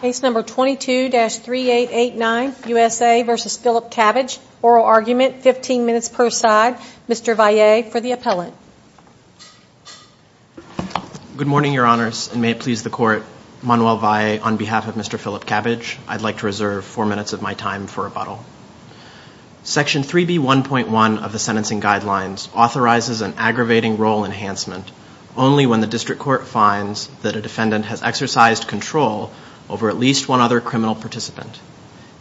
Case number 22-3889, USA v. Phillip Cabbage, oral argument, 15 minutes per side. Mr. Valle, for the appellate. Good morning, Your Honors, and may it please the Court, Manuel Valle, on behalf of Mr. Phillip Cabbage, I'd like to reserve four minutes of my time for rebuttal. Section 3B1.1 of the Sentencing Guidelines authorizes an aggravating role enhancement only when the district court finds that a defendant has exercised control over at least one other criminal participant.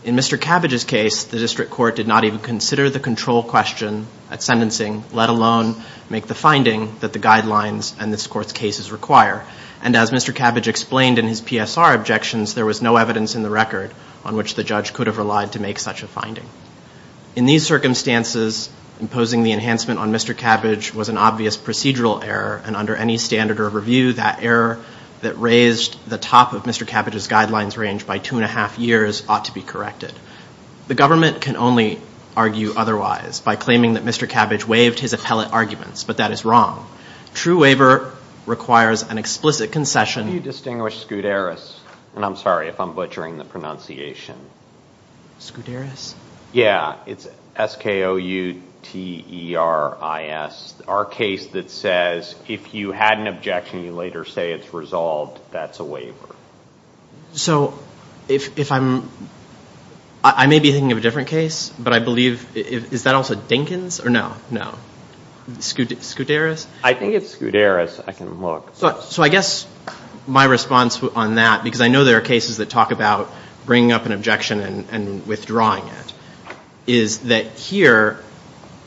In Mr. Cabbage's case, the district court did not even consider the control question at sentencing, let alone make the finding that the guidelines and this Court's cases require. And as Mr. Cabbage explained in his PSR objections, there was no evidence in the record on which the judge could have relied to make such a finding. In these circumstances, imposing the enhancement on Mr. Cabbage was an obvious procedural error, and under any standard or review, that error that raised the top of Mr. Cabbage's guidelines range by two and a half years ought to be corrected. The government can only argue otherwise by claiming that Mr. Cabbage waived his appellate arguments, but that is wrong. True waiver requires an explicit concession. How do you distinguish Scuderes, and I'm sorry if I'm butchering the pronunciation? Scuderes? Yeah, it's S-K-O-U-T-E-R-I-S. Our case that says if you had an objection, you later say it's resolved, that's a waiver. So if I'm, I may be thinking of a different case, but I believe, is that also Dinkins, or no? No. Scuderes? I think it's Scuderes. I can look. So I guess my response on that, because I know there are cases that talk about bringing up an objection and withdrawing it, is that here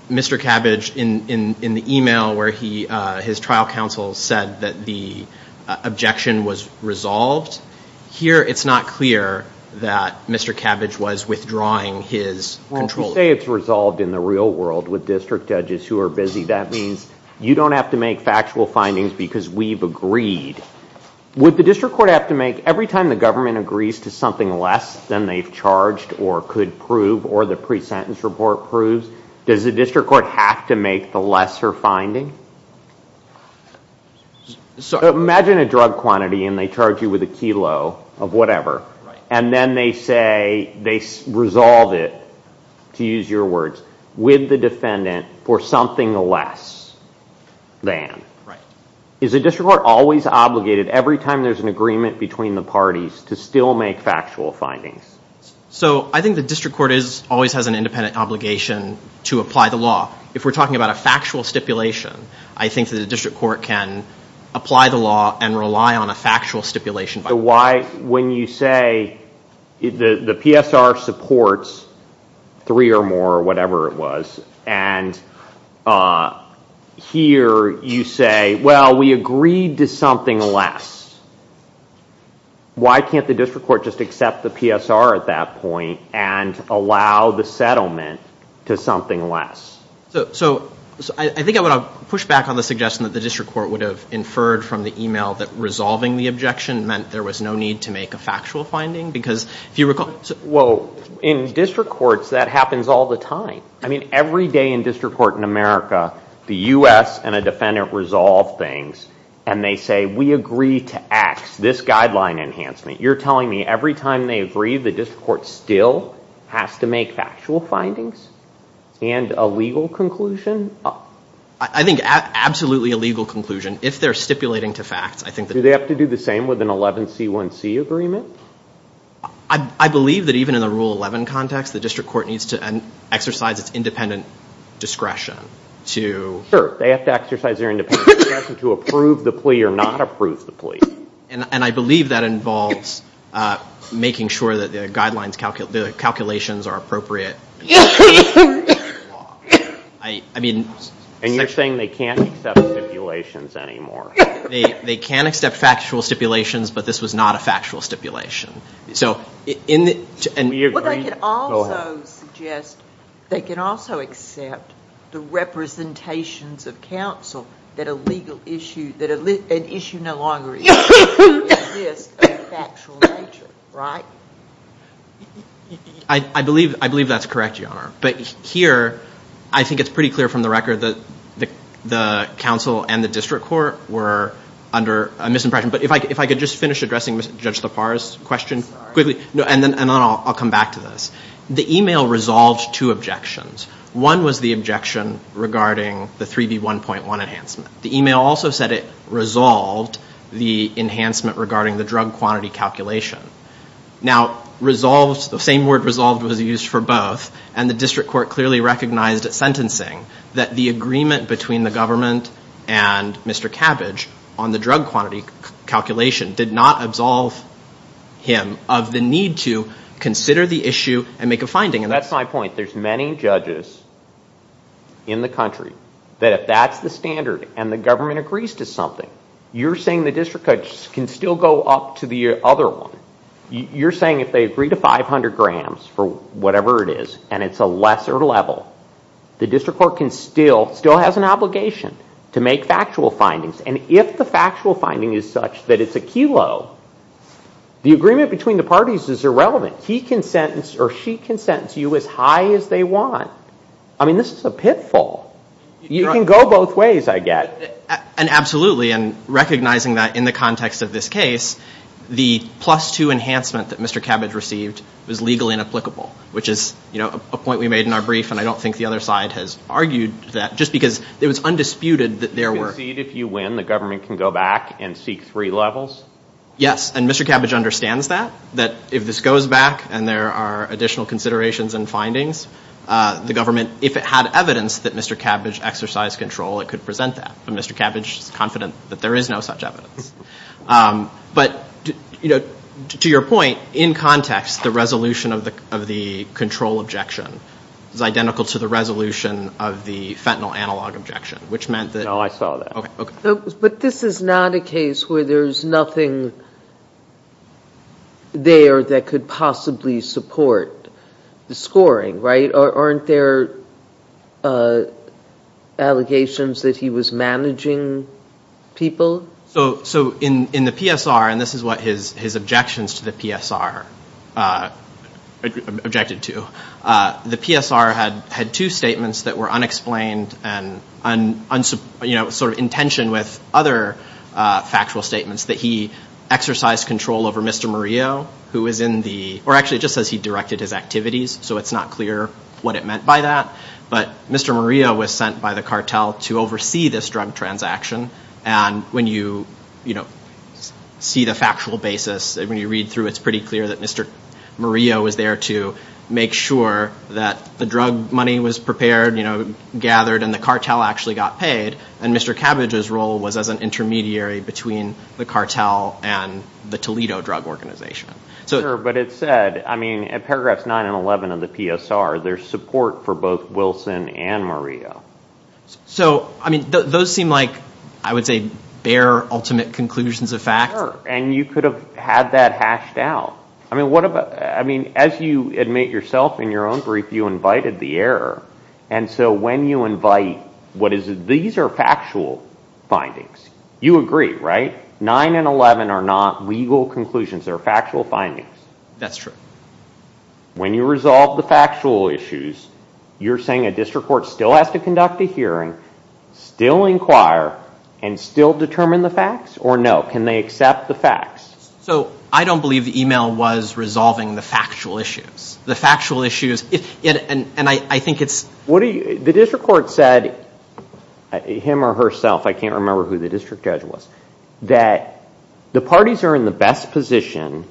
Mr. Cabbage, in the email where his trial counsel said that the objection was resolved, here it's not clear that Mr. Cabbage was withdrawing his control. Well, if you say it's resolved in the real world with district judges who are busy, that means you don't have to make factual findings because we've agreed. Would the district court have to make, every time the government agrees to something less than they've charged or could prove or the pre-sentence report proves, does the district court have to make the lesser finding? Imagine a drug quantity and they charge you with a kilo of whatever, and then they say they resolve it, to use your words, with the defendant for something less than. Is the district court always obligated, every time there's an agreement between the parties, to still make factual findings? So I think the district court always has an independent obligation to apply the law. If we're talking about a factual stipulation, I think that the district court can apply the law and rely on a factual stipulation. So why, when you say the PSR supports three or more or whatever it was, and here you say, well, we agreed to something less, why can't the district court just accept the PSR at that point and allow the settlement to something less? So I think I want to push back on the suggestion that the district court would have inferred from the email that resolving the objection meant there was no need to make a factual finding? Well, in district courts, that happens all the time. I mean, every day in district court in America, the U.S. and a defendant resolve things, and they say, we agree to X, this guideline enhancement. You're telling me every time they agree, the district court still has to make factual findings and a legal conclusion? I think absolutely a legal conclusion, if they're stipulating to facts. Do they have to do the same with an 11C1C agreement? I believe that even in the Rule 11 context, the district court needs to exercise its independent discretion to... Sure, they have to exercise their independent discretion to approve the plea or not approve the plea. And I believe that involves making sure that the guidelines, the calculations are appropriate. And you're saying they can't accept stipulations anymore? They can accept factual stipulations, but this was not a factual stipulation. So in the... Well, they can also suggest, they can also accept the representations of counsel that a legal issue, that an issue no longer exists of a factual nature, right? I believe that's correct, Your Honor. But here, I think it's pretty clear from the record that the counsel and the district court were under a misimpression. But if I could just finish addressing Judge Lepar's question quickly, and then I'll come back to this. The e-mail resolved two objections. One was the objection regarding the 3B1.1 enhancement. The e-mail also said it resolved the enhancement regarding the drug quantity calculation. Now, resolved, the same word resolved was used for both, and the district court clearly recognized at sentencing that the agreement between the government and Mr. Cabbage on the drug quantity calculation did not absolve him of the need to consider the issue and make a finding. That's my point. There's many judges in the country that if that's the standard and the government agrees to something, you're saying the district court can still go up to the other one. You're saying if they agree to 500 grams for whatever it is, and it's a lesser level, the district court can still, still has an obligation to make factual findings. And if the factual finding is such that it's a kilo, the agreement between the parties is irrelevant. He can sentence or she can sentence you as high as they want. I mean, this is a pitfall. You can go both ways, I get. And absolutely, and recognizing that in the context of this case, the plus two enhancement that Mr. Cabbage received was legally inapplicable, which is a point we made in our brief, and I don't think the other side has argued that, just because it was undisputed that there were. You concede if you win, the government can go back and seek three levels? Yes, and Mr. Cabbage understands that, that if this goes back and there are additional considerations and findings, the government, if it had evidence that Mr. Cabbage exercised control, it could present that. And Mr. Cabbage is confident that there is no such evidence. But, you know, to your point, in context, the resolution of the control objection is identical to the resolution of the fentanyl analog objection, which meant that. No, I saw that. But this is not a case where there's nothing there that could possibly support the scoring, right? Aren't there allegations that he was managing people? So in the PSR, and this is what his objections to the PSR objected to, the PSR had two statements that were unexplained and, you know, sort of in tension with other factual statements, that he exercised control over Mr. Murillo, who was in the, or actually it just says he directed his activities, so it's not clear what it meant by that. But Mr. Murillo was sent by the cartel to oversee this drug transaction, and when you, you know, see the factual basis, when you read through, it's pretty clear that Mr. Murillo was there to make sure that the drug money was prepared, you know, gathered, and the cartel actually got paid, and Mr. Cabbage's role was as an intermediary between the cartel and the Toledo drug organization. Sure, but it said, I mean, at paragraphs 9 and 11 of the PSR, there's support for both Wilson and Murillo. So, I mean, those seem like, I would say, bare, ultimate conclusions of fact. Sure, and you could have had that hashed out. I mean, what about, I mean, as you admit yourself in your own brief, you invited the error, and so when you invite what is, these are factual findings. You agree, right? 9 and 11 are not legal conclusions, they're factual findings. That's true. When you resolve the factual issues, you're saying a district court still has to conduct a hearing, still inquire, and still determine the facts, or no, can they accept the facts? So, I don't believe the email was resolving the factual issues. The factual issues, and I think it's… The district court said, him or herself, I can't remember who the district judge was, that the parties are in the best position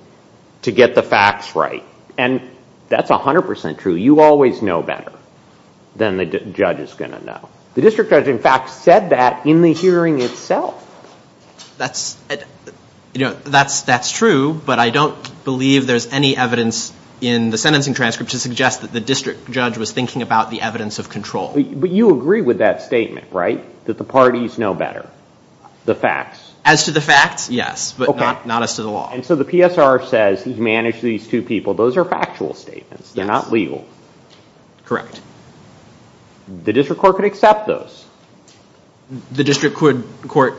to get the facts right, and that's 100% true. You always know better than the judge is going to know. The district judge, in fact, said that in the hearing itself. That's true, but I don't believe there's any evidence in the sentencing transcript to suggest that the district judge was thinking about the evidence of control. But you agree with that statement, right, that the parties know better, the facts? As to the facts, yes, but not as to the law. And so the PSR says he's managed these two people, those are factual statements, they're not legal. Correct. The district court could accept those. The district court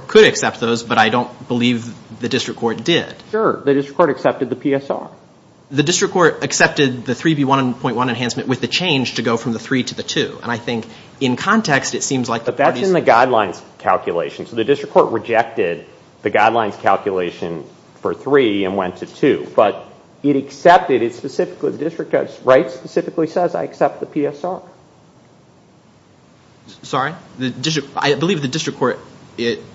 could accept those, but I don't believe the district court did. Sure, the district court accepted the PSR. The district court accepted the 3B1.1 enhancement with the change to go from the 3 to the 2, and I think in context it seems like the parties… But it accepted it specifically. The district judge specifically says I accept the PSR. Sorry? I believe the district court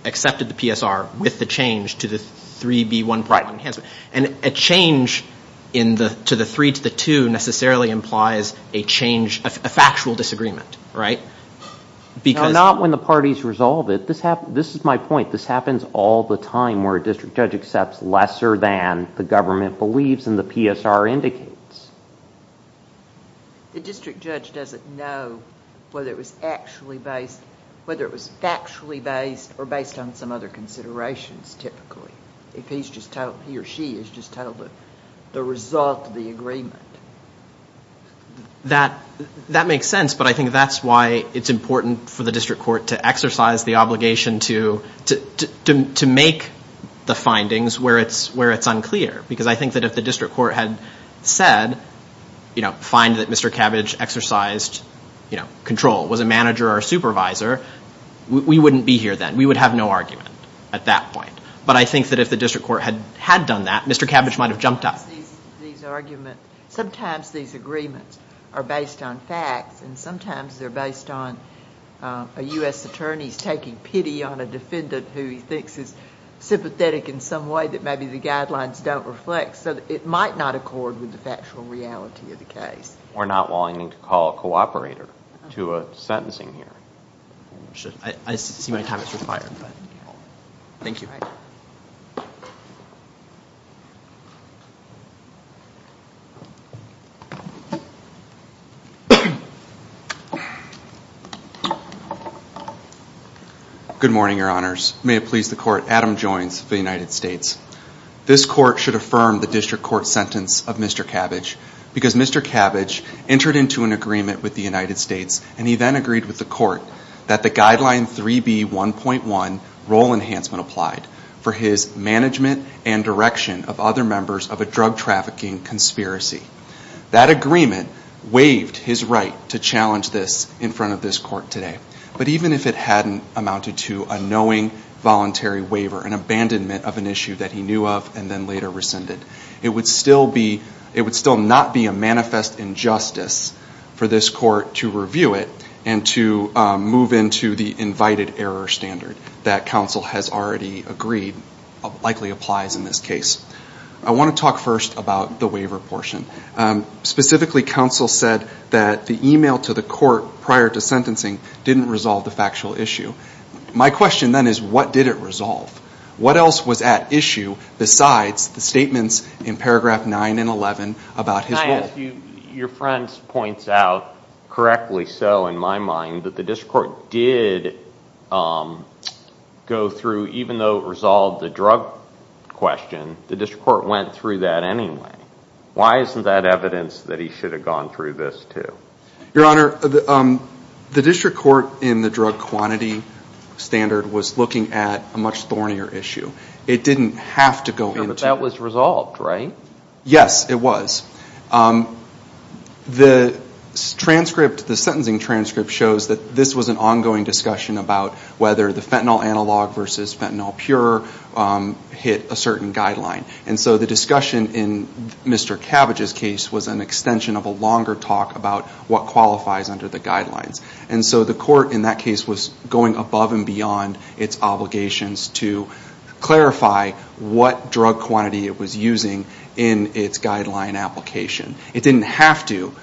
accepted the PSR with the change to the 3B1.1 enhancement. And a change to the 3 to the 2 necessarily implies a change, a factual disagreement, right? No, not when the parties resolve it. This is my point. This happens all the time where a district judge accepts lesser than the government believes and the PSR indicates. The district judge doesn't know whether it was actually based, whether it was factually based or based on some other considerations typically. If he's just told, he or she is just told the result of the agreement. That makes sense, but I think that's why it's important for the district court to exercise the obligation to make the findings where it's unclear. Because I think that if the district court had said, you know, find that Mr. Cabbage exercised control, was a manager or a supervisor, we wouldn't be here then. We would have no argument at that point. But I think that if the district court had done that, Mr. Cabbage might have jumped up. Sometimes these arguments, sometimes these agreements are based on facts and sometimes they're based on a U.S. attorney's taking pity on a defendant who he thinks is sympathetic in some way that maybe the guidelines don't reflect. So it might not accord with the factual reality of the case. We're not wanting to call a cooperator to a sentencing here. I see my time has expired, but thank you. Good morning, Your Honors. May it please the Court, Adam Joines of the United States. This Court should affirm the district court sentence of Mr. Cabbage because Mr. Cabbage entered into an agreement with the United States and he then agreed with the Court that the Guideline 3B1.1, Role Enhancement, applied for his management and direction of other members of a drug trafficking conspiracy. That agreement waived his right to challenge this in front of this Court today. But even if it hadn't amounted to a knowing voluntary waiver, an abandonment of an issue that he knew of and then later rescinded, it would still not be a manifest injustice for this Court to review it and to move into the invited error standard that counsel has already agreed likely applies in this case. I want to talk first about the waiver portion. Specifically, counsel said that the email to the Court prior to sentencing didn't resolve the factual issue. My question then is, what did it resolve? What else was at issue besides the statements in paragraph 9 and 11 about his role? Can I ask you, your friend points out correctly so in my mind that the district court did go through, even though it resolved the drug question, the district court went through that anyway. Why isn't that evidence that he should have gone through this too? Your Honor, the district court in the drug quantity standard was looking at a much thornier issue. It didn't have to go into it. But that was resolved, right? Yes, it was. The transcript, the sentencing transcript shows that this was an ongoing discussion about whether the fentanyl analog versus fentanyl pure hit a certain guideline. And so the discussion in Mr. Cabbage's case was an extension of a longer talk about what qualifies under the guidelines. And so the court in that case was going above and beyond its obligations to clarify what drug quantity it was using in its guideline application. It didn't have to,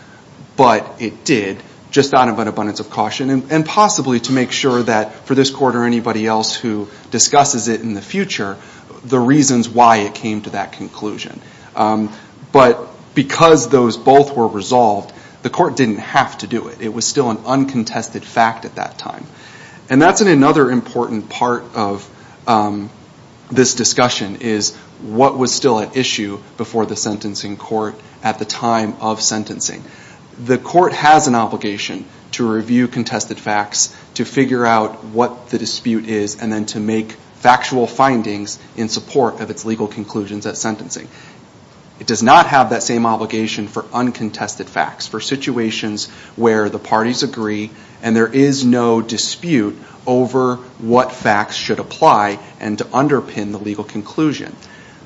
but it did, just out of an abundance of caution and possibly to make sure that for this court or anybody else who discusses it in the future, the reasons why it came to that conclusion. But because those both were resolved, the court didn't have to do it. It was still an uncontested fact at that time. And that's another important part of this discussion, is what was still at issue before the sentencing court at the time of sentencing. The court has an obligation to review contested facts, to figure out what the dispute is, and then to make factual findings in support of its legal conclusions at sentencing. It does not have that same obligation for uncontested facts, for situations where the parties agree and there is no dispute over what facts should apply and to underpin the legal conclusion.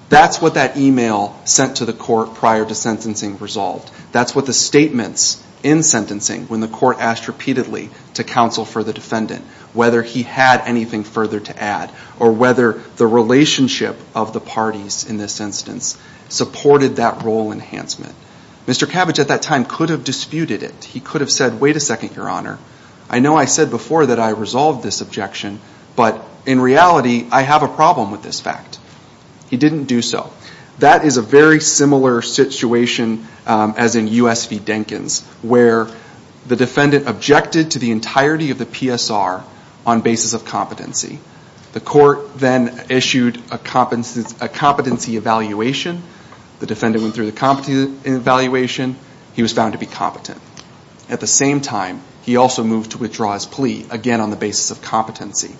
That's what that email sent to the court prior to sentencing resolved. That's what the statements in sentencing, when the court asked repeatedly to counsel for the defendant, whether he had anything further to add, or whether the relationship of the parties in this instance supported that role enhancement. Mr. Cabbage at that time could have disputed it. He could have said, wait a second, Your Honor. I know I said before that I resolved this objection, but in reality, I have a problem with this fact. He didn't do so. That is a very similar situation as in U.S. v. Denkins, where the defendant objected to the entirety of the PSR on basis of competency. The court then issued a competency evaluation. The defendant went through the competency evaluation. He was found to be competent. At the same time, he also moved to withdraw his plea, again on the basis of competency.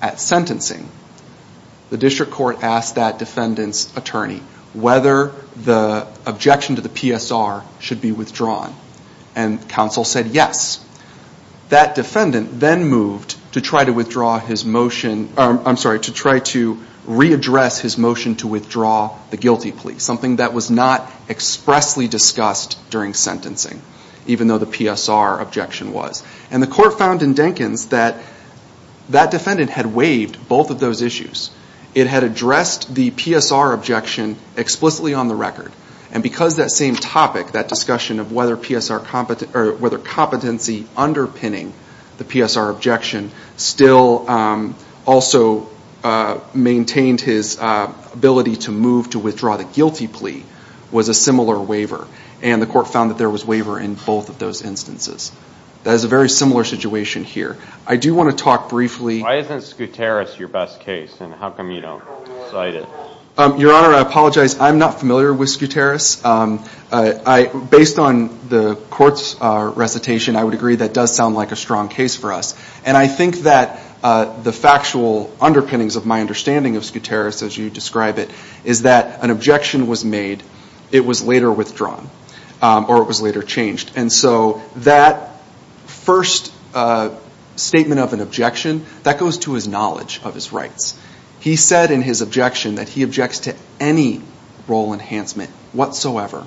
At sentencing, the district court asked that defendant's attorney whether the objection to the PSR should be withdrawn, and counsel said yes. That defendant then moved to try to withdraw his motion, I'm sorry, to try to readdress his motion to withdraw the guilty plea, something that was not expressly discussed during sentencing, even though the PSR objection was. And the court found in Denkins that that defendant had waived both of those issues. It had addressed the PSR objection explicitly on the record. And because that same topic, that discussion of whether competency underpinning the PSR objection, still also maintained his ability to move to withdraw the guilty plea, was a similar waiver. And the court found that there was waiver in both of those instances. That is a very similar situation here. I do want to talk briefly. Why isn't Scuteris your best case, and how come you don't cite it? Your Honor, I apologize. I'm not familiar with Scuteris. Based on the court's recitation, I would agree that does sound like a strong case for us. And I think that the factual underpinnings of my understanding of Scuteris, as you describe it, is that an objection was made, it was later withdrawn, or it was later changed. And so that first statement of an objection, that goes to his knowledge of his rights. He said in his objection that he objects to any role enhancement whatsoever.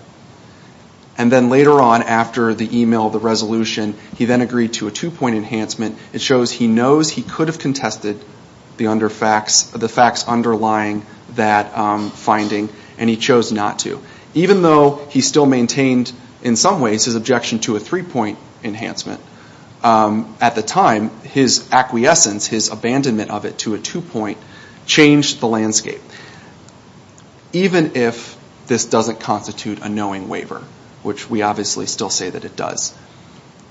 And then later on, after the email, the resolution, he then agreed to a two-point enhancement. It shows he knows he could have contested the facts underlying that finding, and he chose not to. Even though he still maintained, in some ways, his objection to a three-point enhancement, at the time, his acquiescence, his abandonment of it to a two-point, changed the landscape. Even if this doesn't constitute a knowing waiver, which we obviously still say that it does,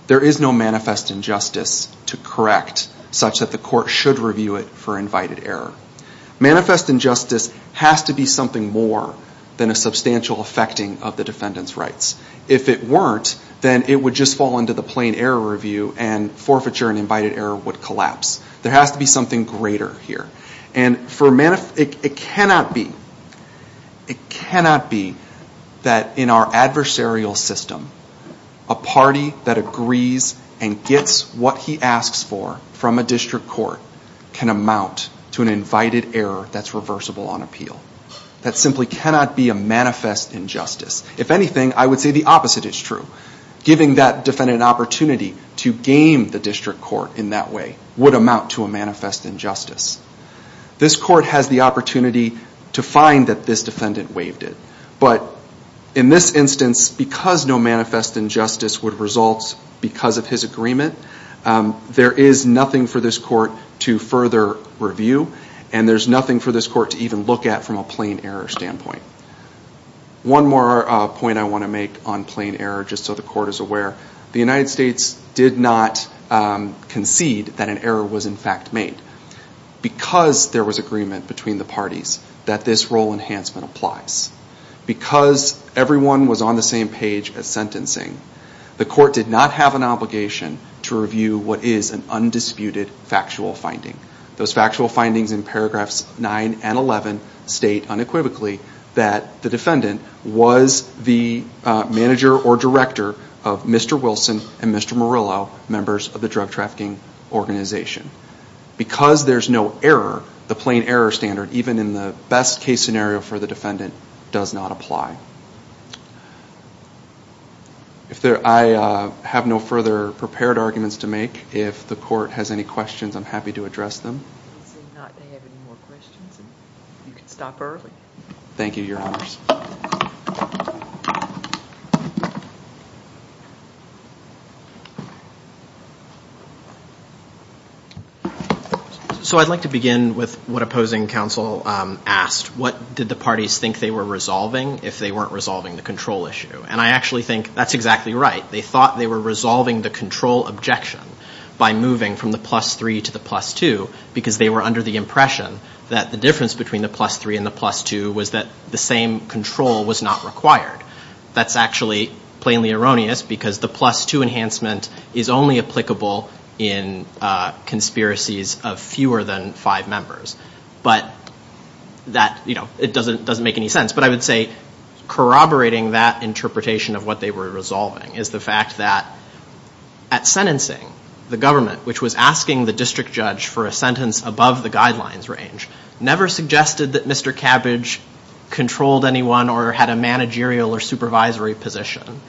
there is no manifest injustice to correct such that the court should review it for invited error. Manifest injustice has to be something more than a substantial affecting of the defendant's rights. If it weren't, then it would just fall into the plain error review, and forfeiture and invited error would collapse. There has to be something greater here. And it cannot be that in our adversarial system, a party that agrees and gets what he asks for from a district court can amount to an invited error that's reversible on appeal. That simply cannot be a manifest injustice. If anything, I would say the opposite is true. Giving that defendant an opportunity to game the district court in that way would amount to a manifest injustice. This court has the opportunity to find that this defendant waived it, but in this instance, because no manifest injustice would result because of his agreement, there is nothing for this court to further review, and there's nothing for this court to even look at from a plain error standpoint. One more point I want to make on plain error, just so the court is aware. The United States did not concede that an error was in fact made. Because there was agreement between the parties that this role enhancement applies, because everyone was on the same page as sentencing, the court did not have an obligation to review what is an undisputed factual finding. Those factual findings in paragraphs 9 and 11 state unequivocally that the defendant was the manager or director of Mr. Wilson and Mr. Murillo, members of the drug trafficking organization. Because there's no error, the plain error standard, even in the best case scenario for the defendant, does not apply. I have no further prepared arguments to make. If the court has any questions, I'm happy to address them. Thank you, Your Honors. So I'd like to begin with what opposing counsel asked. What did the parties think they were resolving if they weren't resolving the control issue? And I actually think that's exactly right. They thought they were resolving the control objection by moving from the plus three to the plus two, because they were under the impression that the difference between the plus three and the plus two was that the same control was not required. That's actually plainly erroneous, because the plus two enhancement is only applicable in conspiracies of fewer than five members. But that, you know, it doesn't make any sense. But I would say corroborating that interpretation of what they were resolving is the fact that at sentencing, the government, which was asking the district judge for a sentence above the guidelines range, never suggested that Mr. Cabbage controlled anyone or had a managerial or supervisory position.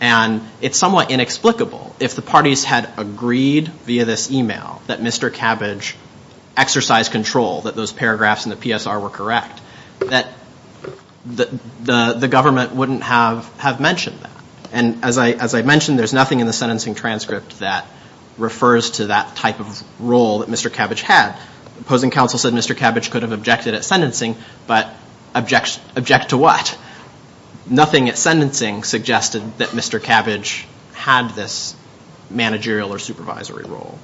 And it's somewhat inexplicable if the parties had agreed via this e-mail that Mr. Cabbage exercised control, that those paragraphs in the PSR were correct, that the government wouldn't have mentioned that. And as I mentioned, there's nothing in the sentencing transcript that refers to that type of role that Mr. Cabbage had. Opposing counsel said Mr. Cabbage could have objected at sentencing, but object to what? Nothing at sentencing suggested that Mr. Cabbage had this managerial or supervisory role.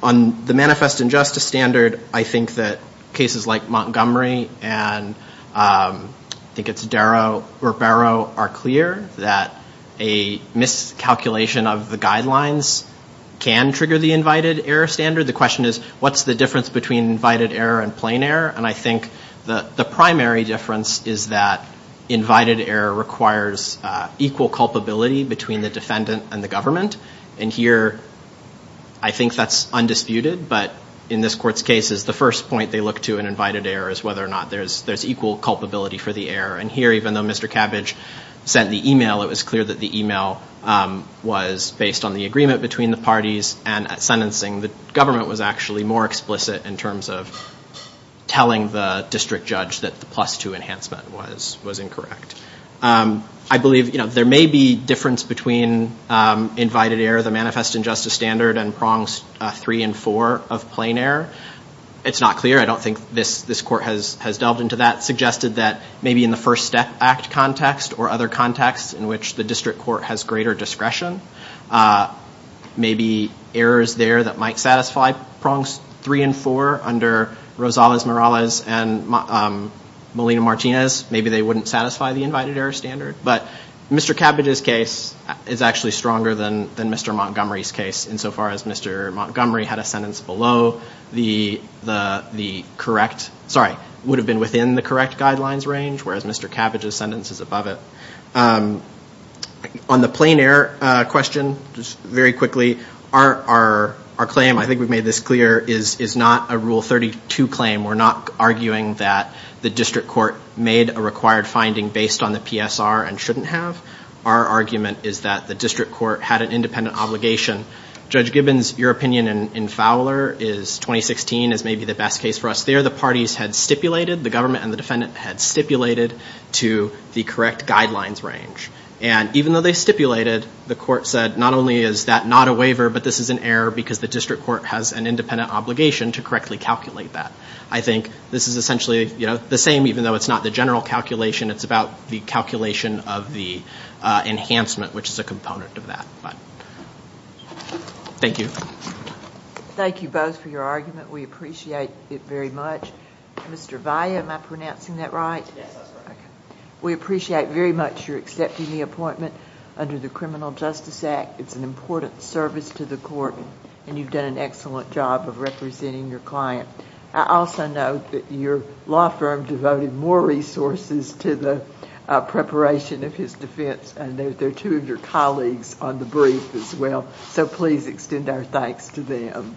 On the manifest injustice standard, I think that cases like Montgomery and I think it's Darrow or Barrow, are clear that a miscalculation of the guidelines can trigger the invited error standard. The question is, what's the difference between invited error and plain error? And I think the primary difference is that invited error requires equal culpability between the defendant and the government. And here, I think that's undisputed. But in this court's case, the first point they look to in invited error is whether or not there's equal culpability for the error. And here, even though Mr. Cabbage sent the e-mail, it was clear that the e-mail was based on the agreement between the parties. And at sentencing, the government was actually more explicit in terms of telling the district judge that the plus-two enhancement was incorrect. I believe there may be difference between invited error, the manifest injustice standard, and prongs three and four of plain error. It's not clear. I don't think this court has delved into that. Suggested that maybe in the First Act context or other contexts in which the district court has greater discretion, maybe errors there that might satisfy prongs three and four under Rosales-Morales and Molina-Martinez, maybe they wouldn't satisfy the invited error standard. But Mr. Cabbage's case is actually stronger than Mr. Montgomery's case, insofar as Mr. Montgomery had a sentence below the correct, sorry, would have been within the correct guidelines range, whereas Mr. Cabbage's sentence is above it. On the plain error question, just very quickly, our claim, I think we've made this clear, is not a Rule 32 claim. We're not arguing that the district court made a required finding based on the PSR and shouldn't have. Our argument is that the district court had an independent obligation. Judge Gibbons, your opinion in Fowler is 2016 is maybe the best case for us there. The parties had stipulated, the government and the defendant had stipulated to the correct guidelines range. And even though they stipulated, the court said not only is that not a waiver, but this is an error because the district court has an independent obligation to correctly calculate that. I think this is essentially the same, even though it's not the general calculation. It's about the calculation of the enhancement, which is a component of that. Thank you. Thank you both for your argument. We appreciate it very much. Mr. Valle, am I pronouncing that right? Yes, that's right. We appreciate very much your accepting the appointment under the Criminal Justice Act. It's an important service to the court, and you've done an excellent job of representing your client. I also note that your law firm devoted more resources to the preparation of his defense, and they're two of your colleagues on the brief as well, so please extend our thanks to them.